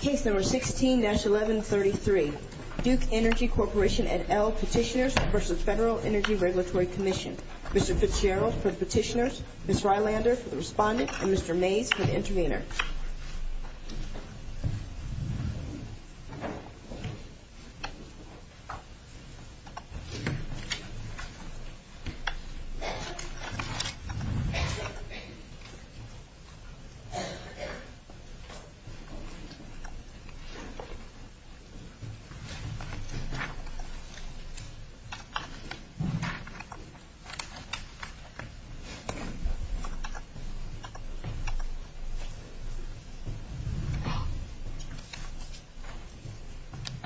Case No. 16-1133, Duke Energy Corporation et al. petitioners v. Federal Energy Regulatory Commission Mr. Fitzgerald for the petitioners, Ms. Rylander for the respondent, and Mr. Mays for the intervener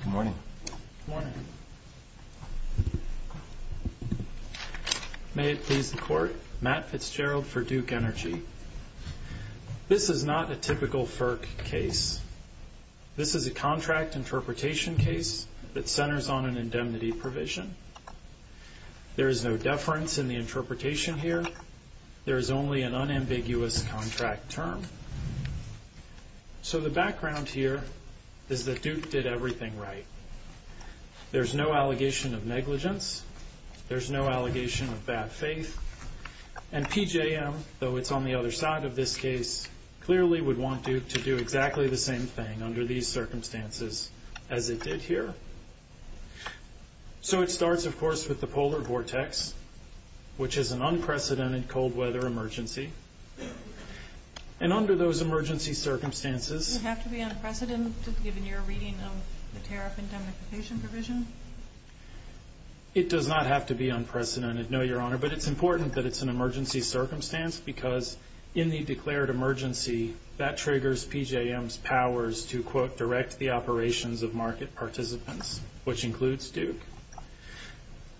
Good morning. Good morning. May it please the Court, Matt Fitzgerald for Duke Energy. This is not a typical FERC case. This is a contract interpretation case that centers on an indemnity provision. There is no deference in the interpretation here. There is only an unambiguous contract term. So the background here is that Duke did everything right. There is no allegation of negligence. There is no allegation of bad faith. And PJM, though it's on the other side of this case, clearly would want Duke to do exactly the same thing under these circumstances as it did here. So it starts, of course, with the polar vortex, which is an unprecedented cold weather emergency. And under those emergency circumstances Does it have to be unprecedented given your reading of the tariff indemnification provision? It does not have to be unprecedented, no, Your Honor. But it's important that it's an emergency circumstance because in the declared emergency, that triggers PJM's powers to direct the operations of market participants, which includes Duke.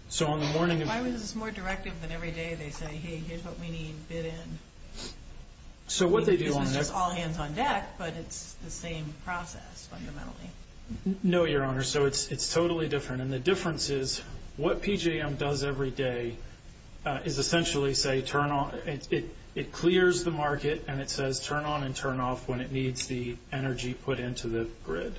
So on the morning of Why was this more directive than every day they say, hey, here's what we need bid in? So what they do on their This was just all hands on deck, but it's the same process fundamentally. No, Your Honor. So it's totally different. And the difference is what PJM does every day is essentially say, turn on it. It clears the market and it says, turn on and turn off when it needs the energy put into the grid.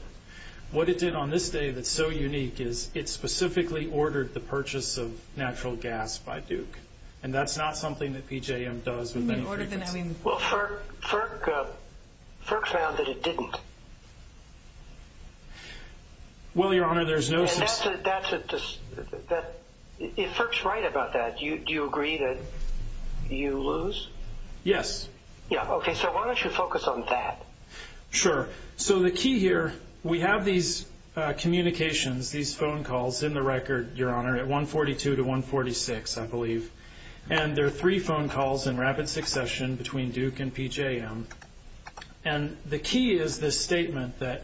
What it did on this day that's so unique is it specifically ordered the purchase of natural gas by Duke. And that's not something that PJM does. Well, FERC, FERC, FERC found that it didn't. Well, Your Honor, there's no FERC's right about that. Do you agree that you lose? Yes. Yeah. Okay. So why don't you focus on that? Sure. So the key here, we have these communications, these phone calls in the record, Your Honor, at 142 to 146, I believe. And there are three phone calls in rapid succession between Duke and PJM. And the key is this statement that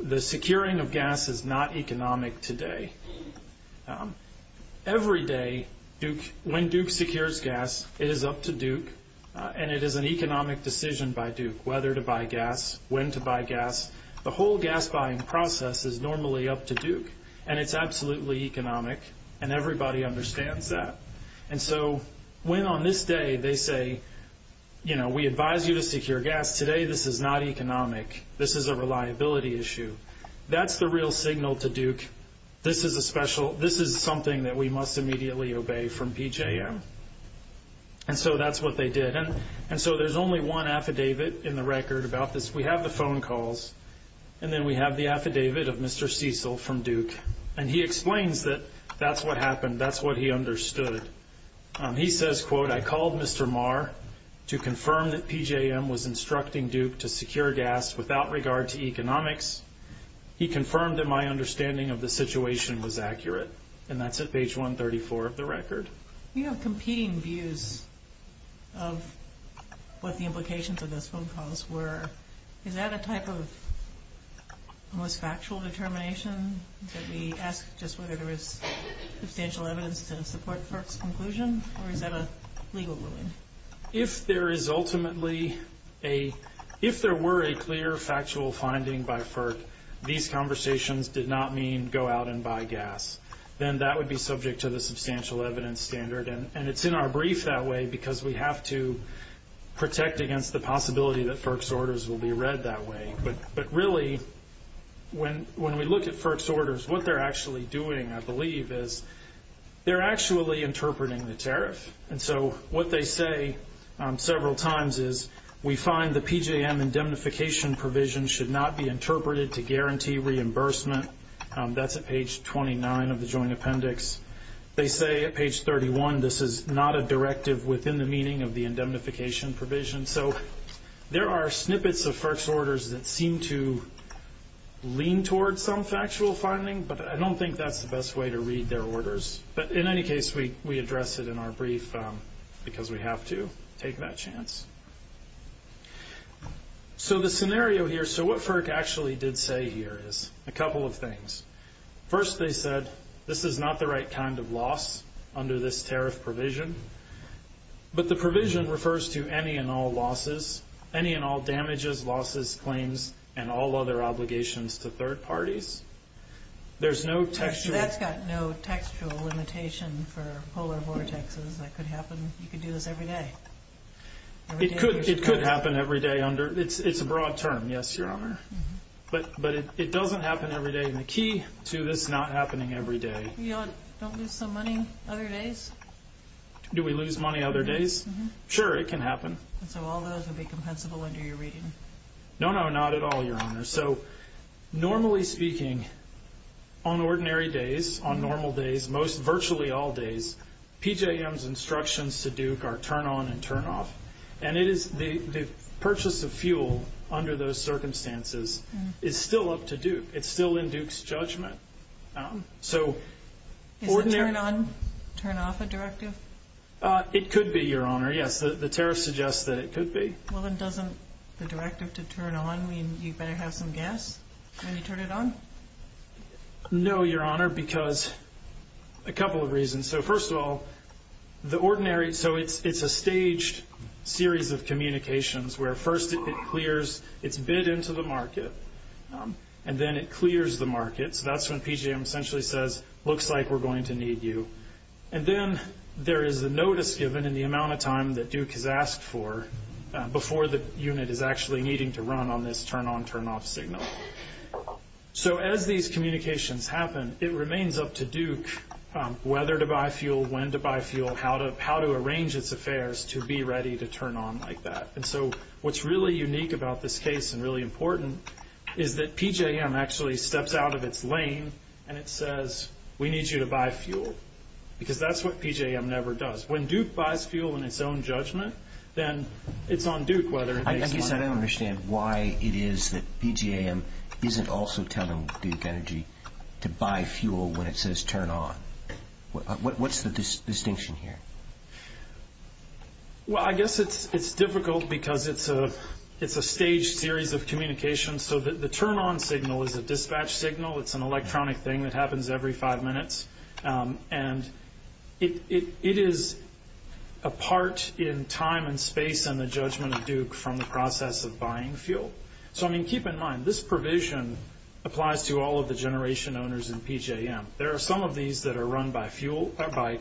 the securing of gas is not economic today. Every day when Duke secures gas, it is up to Duke and it is an economic decision by Duke whether to buy gas, when to buy gas. The whole gas buying process is normally up to Duke and it's absolutely economic and everybody understands that. And so when on this day they say, you know, we advise you to secure gas today. This is not economic. This is a reliability issue. That's the real signal to Duke. This is a special, this is something that we must immediately obey from PJM. And so that's what they did. And so there's only one affidavit in the record about this. We have the phone calls and then we have the affidavit of Mr. Cecil from Duke. And he explains that that's what happened. And that's what he understood. He says, quote, I called Mr. Marr to confirm that PJM was instructing Duke to secure gas without regard to economics. He confirmed that my understanding of the situation was accurate. And that's at page 134 of the record. You have competing views of what the implications of those phone calls were. Is that a type of almost factual determination that we ask just whether there is substantial evidence to support FERC's conclusion? Or is that a legal ruling? If there is ultimately a, if there were a clear factual finding by FERC, these conversations did not mean go out and buy gas. Then that would be subject to the substantial evidence standard. And it's in our brief that way because we have to protect against the possibility that FERC's orders will be read that way. But really, when we look at FERC's orders, what they're actually doing, I believe, is they're actually interpreting the tariff. And so what they say several times is, we find the PJM indemnification provision should not be interpreted to guarantee reimbursement. That's at page 29 of the joint appendix. They say at page 31, this is not a directive within the meaning of the indemnification provision. So there are snippets of FERC's orders that seem to lean towards some factual finding, but I don't think that's the best way to read their orders. But in any case, we address it in our brief because we have to take that chance. So the scenario here, so what FERC actually did say here is a couple of things. First, they said, this is not the right kind of loss under this tariff provision. But the provision refers to any and all losses, any and all damages, losses, claims, and all other obligations to third parties. There's no textual... That's got no textual limitation for polar vortexes. That could happen. You could do this every day. It could happen every day under... It's a broad term, yes, Your Honor. But it doesn't happen every day, and the key to this not happening every day... Don't lose some money other days? Do we lose money other days? Sure, it can happen. So all those would be compensable under your reading? No, no, not at all, Your Honor. So normally speaking, on ordinary days, on normal days, most virtually all days, PJM's instructions to Duke are turn on and turn off. And it is the purchase of fuel under those circumstances is still up to Duke. It's still in Duke's judgment. So ordinary... Is that the directive? It could be, Your Honor. Yes, the tariff suggests that it could be. Well, then doesn't the directive to turn on mean you better have some gas when you turn it on? No, Your Honor, because a couple of reasons. So first of all, the ordinary... So it's a staged series of communications where first it clears its bid into the market, and then it clears the market. So that's when PJM essentially says, looks like we're going to need you. And then there is a notice given in the amount of time that Duke has asked for before the unit is actually needing to run on this turn on, turn off signal. So as these communications happen, it remains up to Duke whether to buy fuel, when to buy fuel, how to arrange its affairs to be ready to turn on like that. And so what's really unique about this case and really important is that PJM actually steps out of its lane and it says, we need you to buy fuel, because that's what PJM never does. When Duke buys fuel in its own judgment, then it's on Duke whether it pays for it. I guess I don't understand why it is that PJM isn't also telling Duke Energy to buy fuel when it says turn on. What's the distinction here? Well I guess it's difficult because it's a staged series of communications. So the turn on signal is a dispatch signal. It's an electronic thing that happens every five minutes. And it is a part in time and space and the judgment of Duke from the process of buying fuel. So I mean keep in mind, this provision applies to all of the generation owners in PJM. There are some of these that are run by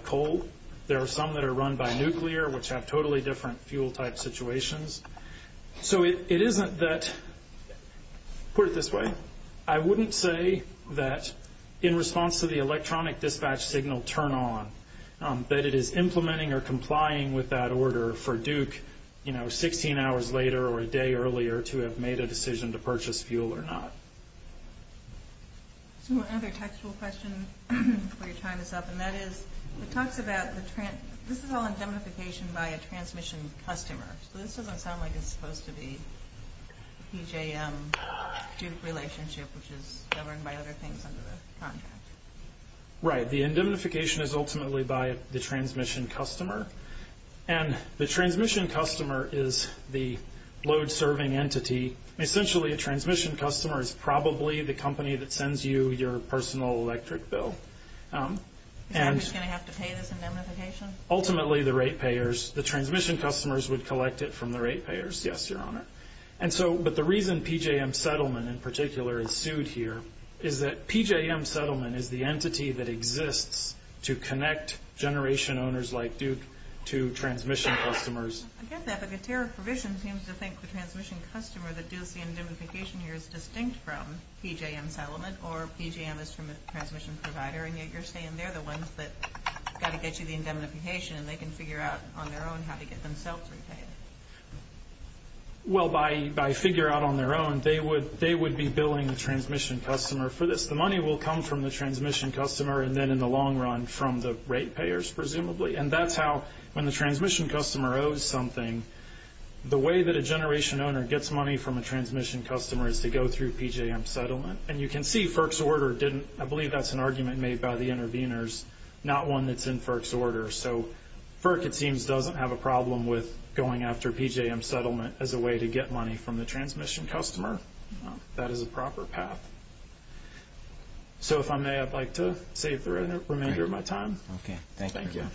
coal. There are some that are run by nuclear, which have totally different fuel type situations. So it isn't that, put it this way, I wouldn't say that in response to the electronic dispatch signal turn on, that it is implementing or complying with that order for Duke, you know, 16 hours later or a day earlier to have made a decision to purchase fuel or not. So another textual question before you chime us up and that is, it talks about, this is all indemnification by a transmission customer. So this doesn't sound like it's supposed to be a PJM-Duke relationship, which is governed by other things under the contract. Right, the indemnification is ultimately by the transmission customer. And the transmission customer is probably the company that sends you your personal electric bill. Is Duke just going to have to pay this indemnification? Ultimately, the rate payers, the transmission customers would collect it from the rate payers, yes, your honor. And so, but the reason PJM settlement in particular is sued here is that PJM settlement is the entity that exists to connect generation owners like Duke to transmission customers. I get that, but the tariff provision seems to think the transmission customer that does the indemnification here is distinct from PJM settlement or PJM is from a transmission provider and yet you're saying they're the ones that got to get you the indemnification and they can figure out on their own how to get themselves repaid. Well, by figure out on their own, they would be billing the transmission customer for this. The money will come from the transmission customer and then in the long run from the rate payers, presumably. And that's how, when the transmission customer owes something, the way that a generation owner gets money from a transmission customer is to go through PJM settlement. And you can see FERC's order didn't, I believe that's an argument made by the interveners, not one that's in FERC's order. So FERC, it seems, doesn't have a problem with going after PJM settlement as a way to get money from the transmission customer. That is a proper path. So if I may, I'd like to save the remainder of my time. Okay. Thank you. Thank you.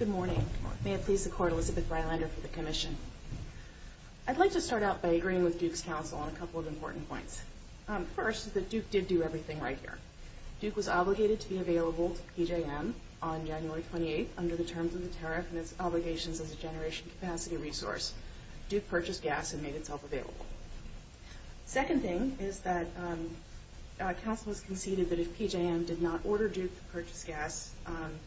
Good morning. May it please the Court, Elizabeth Rylander for the Commission. I'd like to start out by agreeing with Duke's counsel on a couple of important points. First, that Duke did do everything right here. Duke was obligated to be available to PJM on January 28th under the terms of the tariff and its obligations as a generation capacity resource. Duke purchased gas and made itself available. Second thing is that counsel has conceded that if PJM did not order Duke to purchase gas,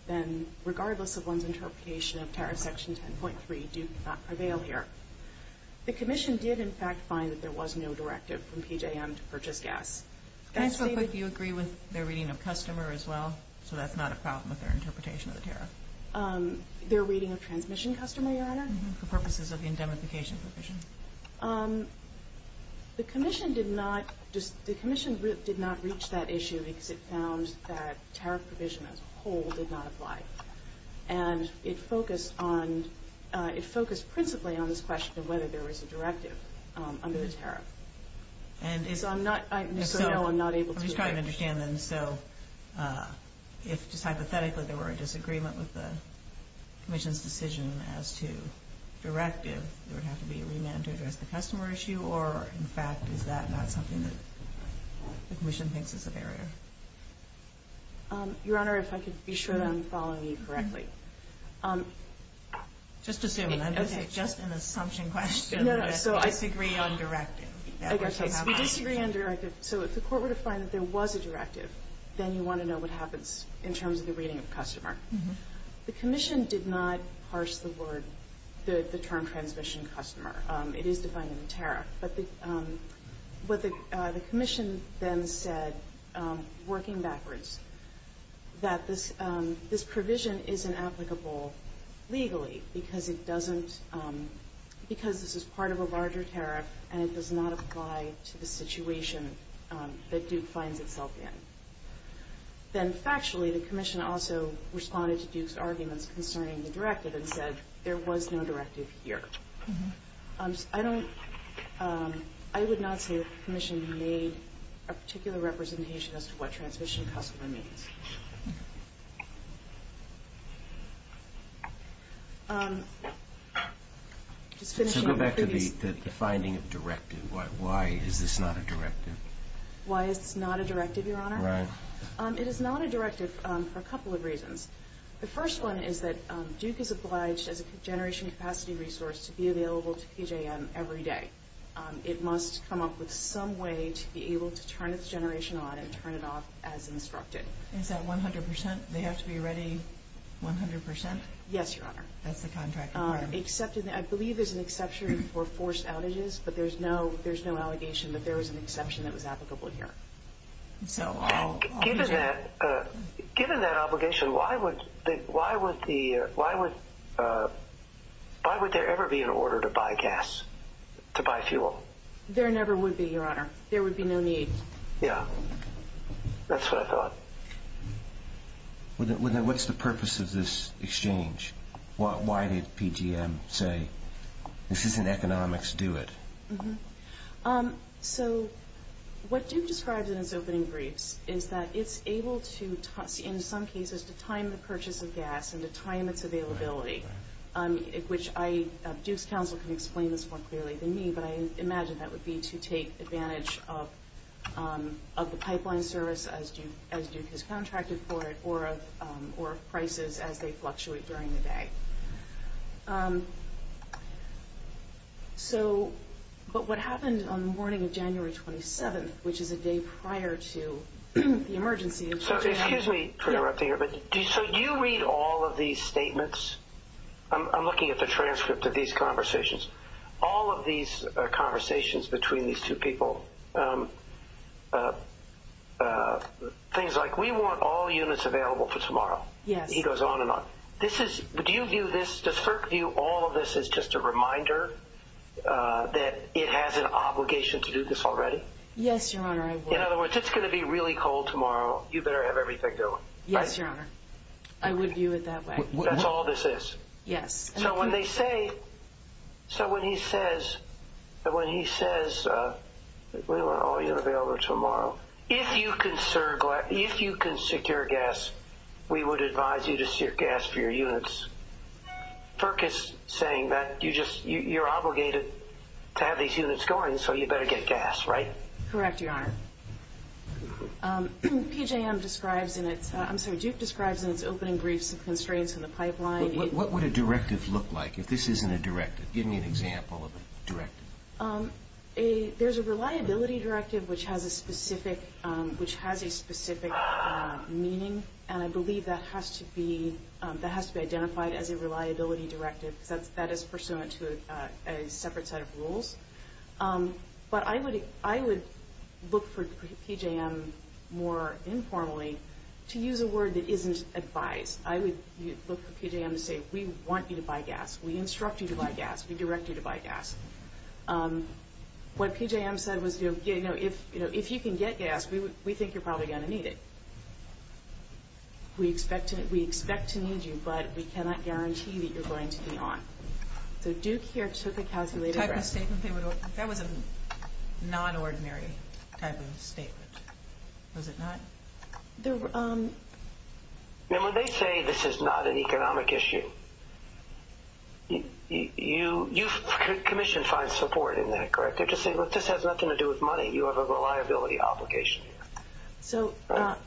then regardless of one's interpretation of Tariff Section 10.3, Duke would not prevail here. The Commission did, in fact, find that there was no directive from PJM to purchase gas. Can I ask real quick, do you agree with their reading of customer as well? So that's not a problem with their interpretation of the tariff. Their reading of transmission customer, Your Honor? For purposes of the indemnification provision. The Commission did not reach that issue because it found that tariff provision as a whole did not apply. And it focused principally on this question of whether there was a directive under the tariff. And so I'm not able to agree. I'm just trying to understand then, so if just hypothetically there were a disagreement with the Commission's decision as to directive, there would have to be a remand to address the customer issue? Or, in fact, is that not something that the Commission thinks is a barrier? Your Honor, if I could be sure that I'm following you correctly. Just assume. Okay. Just an assumption question. No, no. So I disagree on directive. We disagree on directive. So if the court were to find that there was a directive, then you want to know what happens in terms of the reading of customer. The Commission did not parse the word, the term transmission customer. It is defined in the tariff. But what the Commission then said, working backwards, that this provision isn't applicable legally because it doesn't, because this is part of a larger tariff and it does not apply to the situation that Duke finds itself in. Then, factually, the Commission also responded to Duke's arguments concerning the directive and said there was no directive here. I don't, I would not say the Commission made a particular representation as to what transmission customer means. Just finishing up. To go back to the finding of directive, why is this not a directive? Why it's not a directive, Your Honor? It is not a directive for a couple of reasons. The first one is that Duke is obliged, as a generation capacity resource, to be available to PJM every day. It must come up with some way to be able to turn its generation on and turn it off as instructed. Is that 100 percent? They have to be ready 100 percent? Yes, Your Honor. That's the contract requirement. I believe there's an exception for forced outages, but there's no allegation that there was an exception that was applicable here. So given that obligation, why would there ever be an order to buy gas, to buy fuel? There never would be, Your Honor. There would be no need. Yeah, that's what I thought. What's the purpose of this exchange? Why did PJM say, this isn't economics, do it? Mm-hmm. So what Duke describes in its opening briefs is that it's able to, in some cases, to time the purchase of gas and to time its availability, which Duke's counsel can explain this more clearly than me, but I imagine that would be to take advantage of the pipeline service as Duke has contracted for it, or of prices as they fluctuate during the day. So, but what happened on the morning of January 27th, which is a day prior to the emergency in Japan... So excuse me for interrupting here, but do you read all of these statements? I'm looking at the transcript of these conversations. All of these conversations between these two people, things like, we want all units available for tomorrow. Yes. He goes on and on. Do you view this, does FERC view all of this as just a reminder that it has an obligation to do this already? Yes, Your Honor. In other words, it's going to be really cold tomorrow. You better have everything going. Yes, Your Honor. I would view it that way. That's all this is? Yes. So when they say, so when he says, we want all units available tomorrow, if you can secure gas, we would advise you to secure gas for your units. FERC is saying that you just, you're obligated to have these units going, so you better get gas, right? Correct, Your Honor. PJM describes in its, I'm sorry, Duke describes in its opening brief some constraints in the pipeline. What would a directive look like if this isn't a directive? Give me an example of a directive. A, there's a reliability directive which has a specific, which has a specific meaning, and I believe that has to be, that has to be identified as a reliability directive, because that is pursuant to a separate set of rules. But I would, I would look for PJM more informally to use a word that isn't advised. I would look for PJM to say, we want you to buy gas. We instruct you to buy gas. We direct you to buy gas. What PJM said was, you know, if, you know, if you can get gas, we would, we think you're probably going to need it. We expect to, we expect to need you, but we cannot guarantee that you're going to be on. So Duke here took a calculated risk. Type of statement they would, that was a non-ordinary type of statement, was it not? There were, and when they say this is not an economic issue, you, you, you, Commission finds support in that, correct? They just say, look, this has nothing to do with money. You have a reliability obligation. So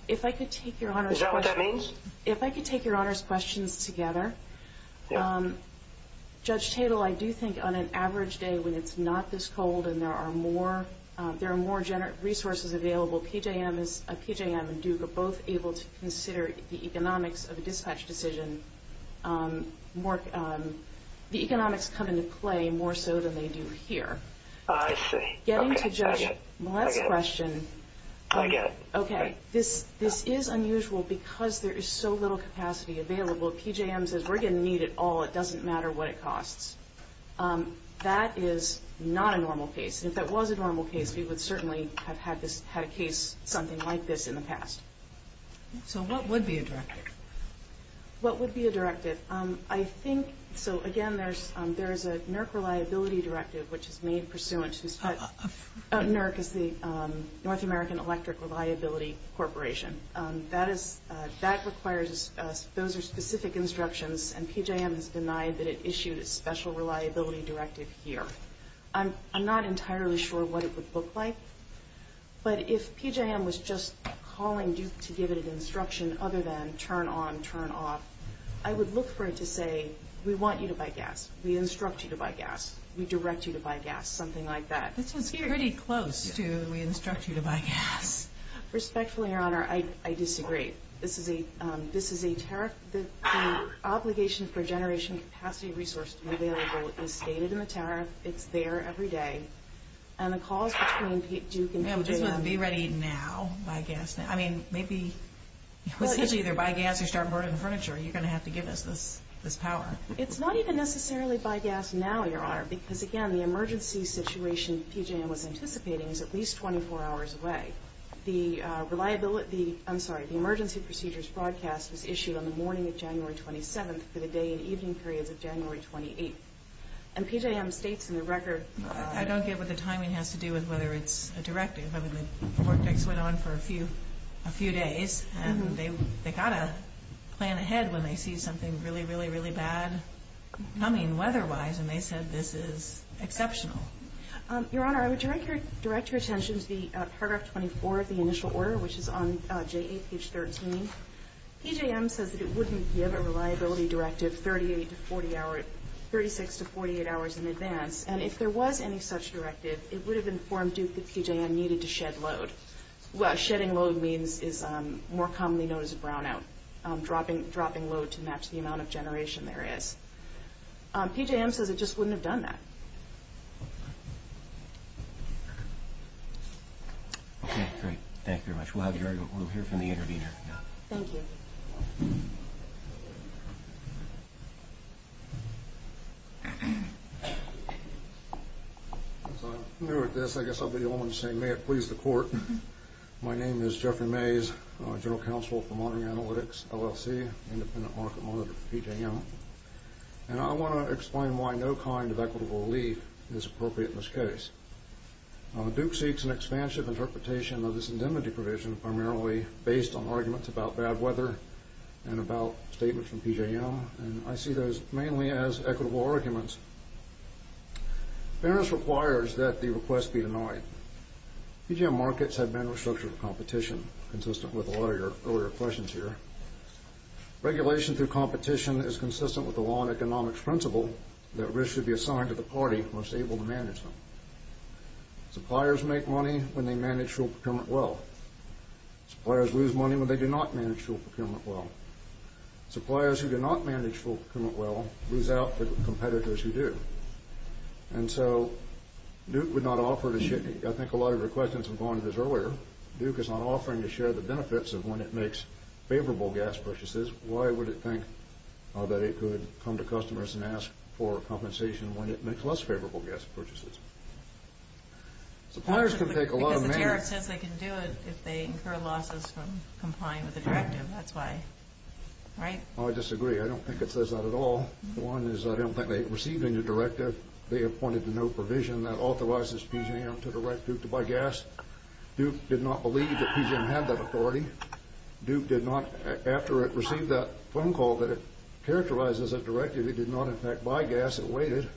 if I could take your Honor's question. Is that what that means? If I could take your Honor's questions together. Judge Tatel, I do think on an average day when it's not this cold and there are more, there are more generic resources available, PJM is, PJM and Duke are both able to consider the economics of a dispatch decision more, the economics come into play more so than they do here. I see. Getting to Judge Millett's question. I get it. Okay. This, this is unusual because there is so little capacity available. PJM says we're going to need it all. It doesn't matter what it costs. That is not a normal case. And if that was a normal case, we would certainly have had this, had a case something like this in the past. So what would be a directive? What would be a directive? I think, so again, there's, there's a NERC reliability directive which is made pursuant to NERC is the North American Electric Reliability Corporation. That is, that requires, those are specific instructions and PJM has denied that it issued a special reliability directive here. I'm, I'm not entirely sure what it would look like. But if PJM was just calling Duke to give it an instruction other than turn on, turn off, I would look for it to say, we want you to buy gas. We instruct you to buy gas. We direct you to buy gas. Something like that. This is pretty close to we instruct you to buy gas. Respectfully, Your Honor, I, I disagree. This is a, this is a tariff. The, the obligation for generation capacity resource to be available is stated in the tariff. It's there every day. And the calls between Duke and PJM. Yeah, but just be ready now. Buy gas now. I mean, maybe, it's usually either buy gas or start burning furniture. You're going to have to give us this, this power. It's not even necessarily buy gas now, Your Honor, because again, the emergency situation PJM was anticipating is at least 24 hours away. The reliability, I'm sorry, the emergency procedures broadcast was issued on the morning of January 27th for the day and evening periods of January 28th. And PJM states in the record. I don't get what the timing has to do with whether it's a directive. I mean, the vortex went on for a few, a few days and they, they got a plan ahead when they see something really, really, really bad coming weather-wise. And they said this is exceptional. Your Honor, I would direct your, direct your attention to the paragraph 24 of the initial order, which is on J8, page 13. PJM says that it wouldn't give a reliability directive 38 to 40 hours, 36 to 48 hours in advance. And if there was any such directive, it would have informed Duke that PJM needed to shed load. Shedding load means, is more commonly known as a brownout, dropping, dropping load to match the amount of generation there is. PJM says it just wouldn't have done that. Okay, great. Thank you very much. We'll have, we'll hear from the intervener. Thank you. As I'm new at this, I guess I'll be the only one saying, may it please the Court. My name is Jeffrey Mays, General Counsel for Monitoring Analytics, LLC, Independent Market Monitor for PJM. And I want to explain why no kind of equitable relief is appropriate in this case. Duke seeks an expansive interpretation of this indemnity provision, primarily based on arguments about bad weather and about statements from PJM. And I see those mainly as equitable arguments. Fairness requires that the request be denied. PJM markets have been restructured for competition, consistent with a lot of your earlier questions here. Regulation through competition is consistent with the law and economics principle that risk should be assigned to the party most able to manage them. Suppliers make money when they manage full procurement well. Suppliers lose money when they do not manage full procurement well. Suppliers who do not manage full procurement well lose out the competitors who do. And so Duke would not offer to share. I think a lot of your questions were going to this earlier. Duke is not offering to share the benefits of when it makes favorable gas purchases. Why would it think that it could come to customers and ask for compensation when it makes less favorable gas purchases? Suppliers can take a lot of money. Because the tariff says they can do it if they incur losses from complying with the directive. That's why. Right? Oh, I disagree. I don't think it says that at all. One is I don't think they received any directive. They appointed to no provision that authorizes PGM to direct Duke to buy gas. Duke did not believe that PGM had that authority. Duke did not. After it received that phone call that it characterized as a directive, it did not in fact buy gas. It waited.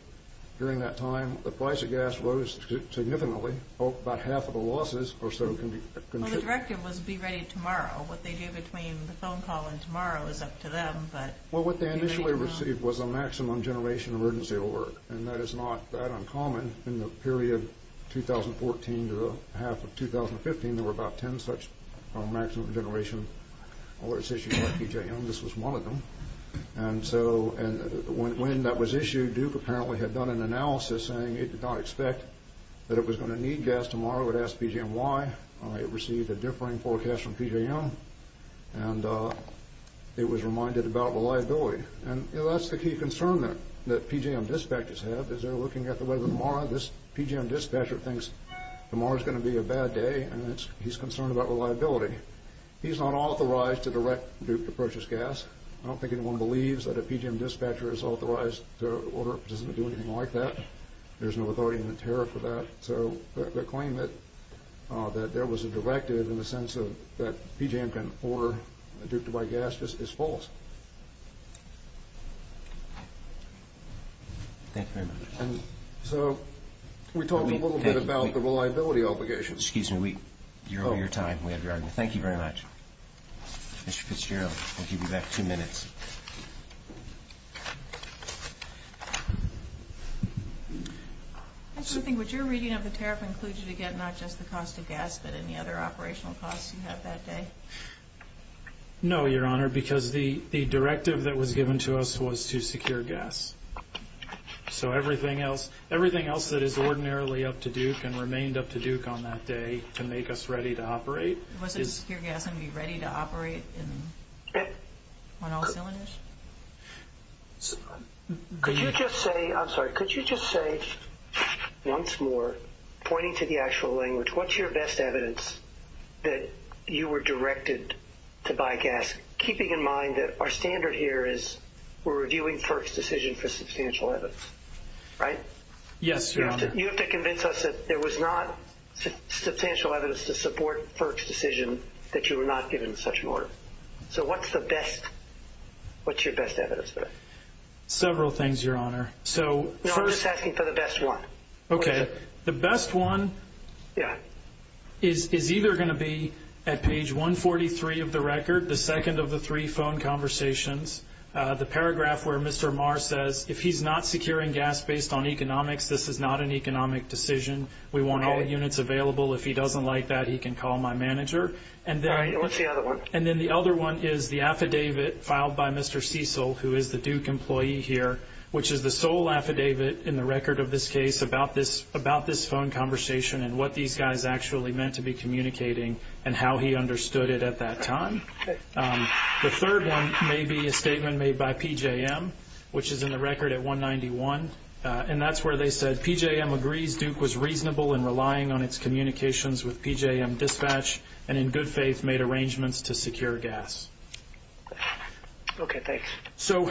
During that time, the price of gas rose significantly. Oh, about half of the losses or so can be contributed. Well, the directive was be ready tomorrow. What they do between the phone call and tomorrow is up to them. Well, what they initially received was a maximum generation emergency alert. And that is not that uncommon. In the period 2014 to the half of 2015, there were about 10 such maximum generation alerts issued by PGM. This was one of them. And so when that was issued, Duke apparently had done an analysis saying it did not expect that it was going to need gas tomorrow. It asked PGM why. It received a differing forecast from PGM. And it was reminded about reliability. And that's the key concern that PGM dispatchers have is they're looking at the weather tomorrow. This PGM dispatcher thinks tomorrow is going to be a bad day. And he's concerned about reliability. He's not authorized to direct Duke to purchase gas. I don't think anyone believes that a PGM dispatcher is authorized to order. It doesn't do anything like that. There's no authority in the tariff for that. So the claim that there was a directive in the sense of that PGM can order Duke to buy gas is false. Thank you very much. And so we talked a little bit about the reliability obligations. Excuse me. You're on your time. We have your argument. Thank you very much. Mr. Fitzgerald, I'll give you back two minutes. I sort of think what you're reading of the tariff includes, again, not just the cost of gas, but any other operational costs you have that day. No, Your Honor, because the directive that was given to us was to secure gas. So everything else that is ordinarily up to Duke and remained up to Duke on that day to make us ready to operate. It wasn't to secure gas and be ready to operate in 1-0-7, was it? Your Honor, could you just say once more, pointing to the actual language, what's your best evidence that you were directed to buy gas, keeping in mind that our standard here is we're reviewing FERC's decision for substantial evidence, right? Yes, Your Honor. You have to convince us that there was not substantial evidence to support FERC's decision that you were not given such an order. So what's the best? What's your best evidence for that? Several things, Your Honor. So first- No, I'm just asking for the best one. Okay. The best one is either going to be at page 143 of the record, the second of the three phone conversations, the paragraph where Mr. Marr says, if he's not securing gas based on economics, this is not an economic decision. We want all units available. If he doesn't like that, he can call my manager. And then- What's the other one? And then the other one is the affidavit filed by Mr. Cecil, who is the Duke employee here, which is the sole affidavit in the record of this case about this phone conversation and what these guys actually meant to be communicating and how he understood it at that time. The third one may be a statement made by PJM, which is in the record at 191, and that's where they said, PJM agrees Duke was reasonable in relying on its communications with PJM dispatch, and in good faith, made arrangements to secure gas. Okay, thanks. So,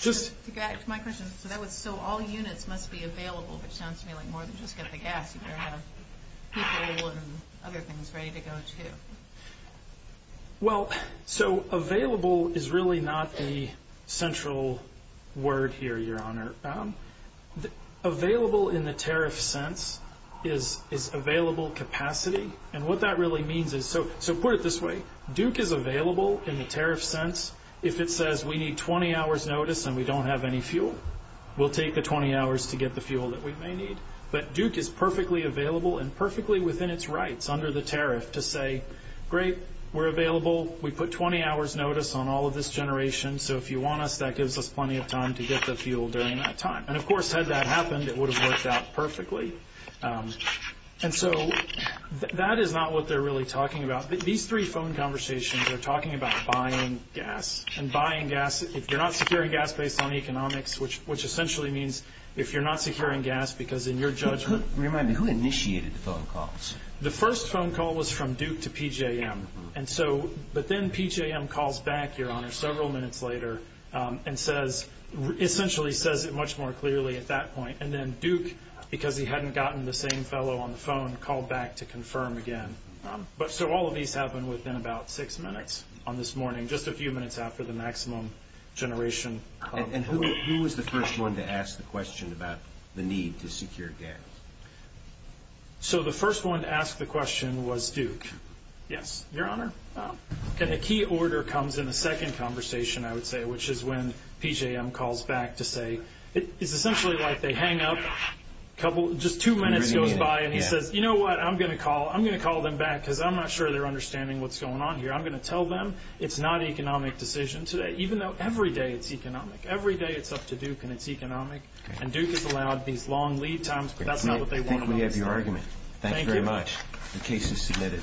just- To go back to my question, so that was, so all units must be available, which sounds to me like more than just get the gas. You better have people and other things ready to go, too. Well, so available is really not the central word here, Your Honor. The available in the tariff sense is available capacity. And what that really means is, so put it this way. Duke is available in the tariff sense. If it says we need 20 hours notice and we don't have any fuel, we'll take the 20 hours to get the fuel that we may need. But Duke is perfectly available and perfectly within its rights under the tariff to say, great, we're available. We put 20 hours notice on all of this generation, so if you want us, that gives us plenty of time to get the fuel during that time. And of course, had that happened, it would have worked out perfectly. And so, that is not what they're really talking about. These three phone conversations are talking about buying gas. And buying gas, if you're not securing gas based on economics, which essentially means if you're not securing gas because in your judgment- Remind me, who initiated the phone calls? The first phone call was from Duke to PJM. And so, but then PJM calls back, Your Honor, several minutes later and says, essentially says it much more clearly at that point. And then Duke, because he hadn't gotten the same fellow on the phone, called back to confirm again. But so, all of these happened within about six minutes on this morning, just a few minutes after the maximum generation. And who was the first one to ask the question about the need to secure gas? So, the first one to ask the question was Duke. Yes, Your Honor. And a key order comes in the second conversation, I would say, which is when PJM calls back to say, it's essentially like they hang up a couple, just two minutes goes by and he says, you know what? I'm going to call, I'm going to call them back because I'm not sure they're understanding what's going on here. I'm going to tell them it's not an economic decision today, even though every day it's economic. Every day it's up to Duke and it's economic. And Duke has allowed these long lead times, but that's not what they want. I think we have your argument. Thank you very much. The case is submitted.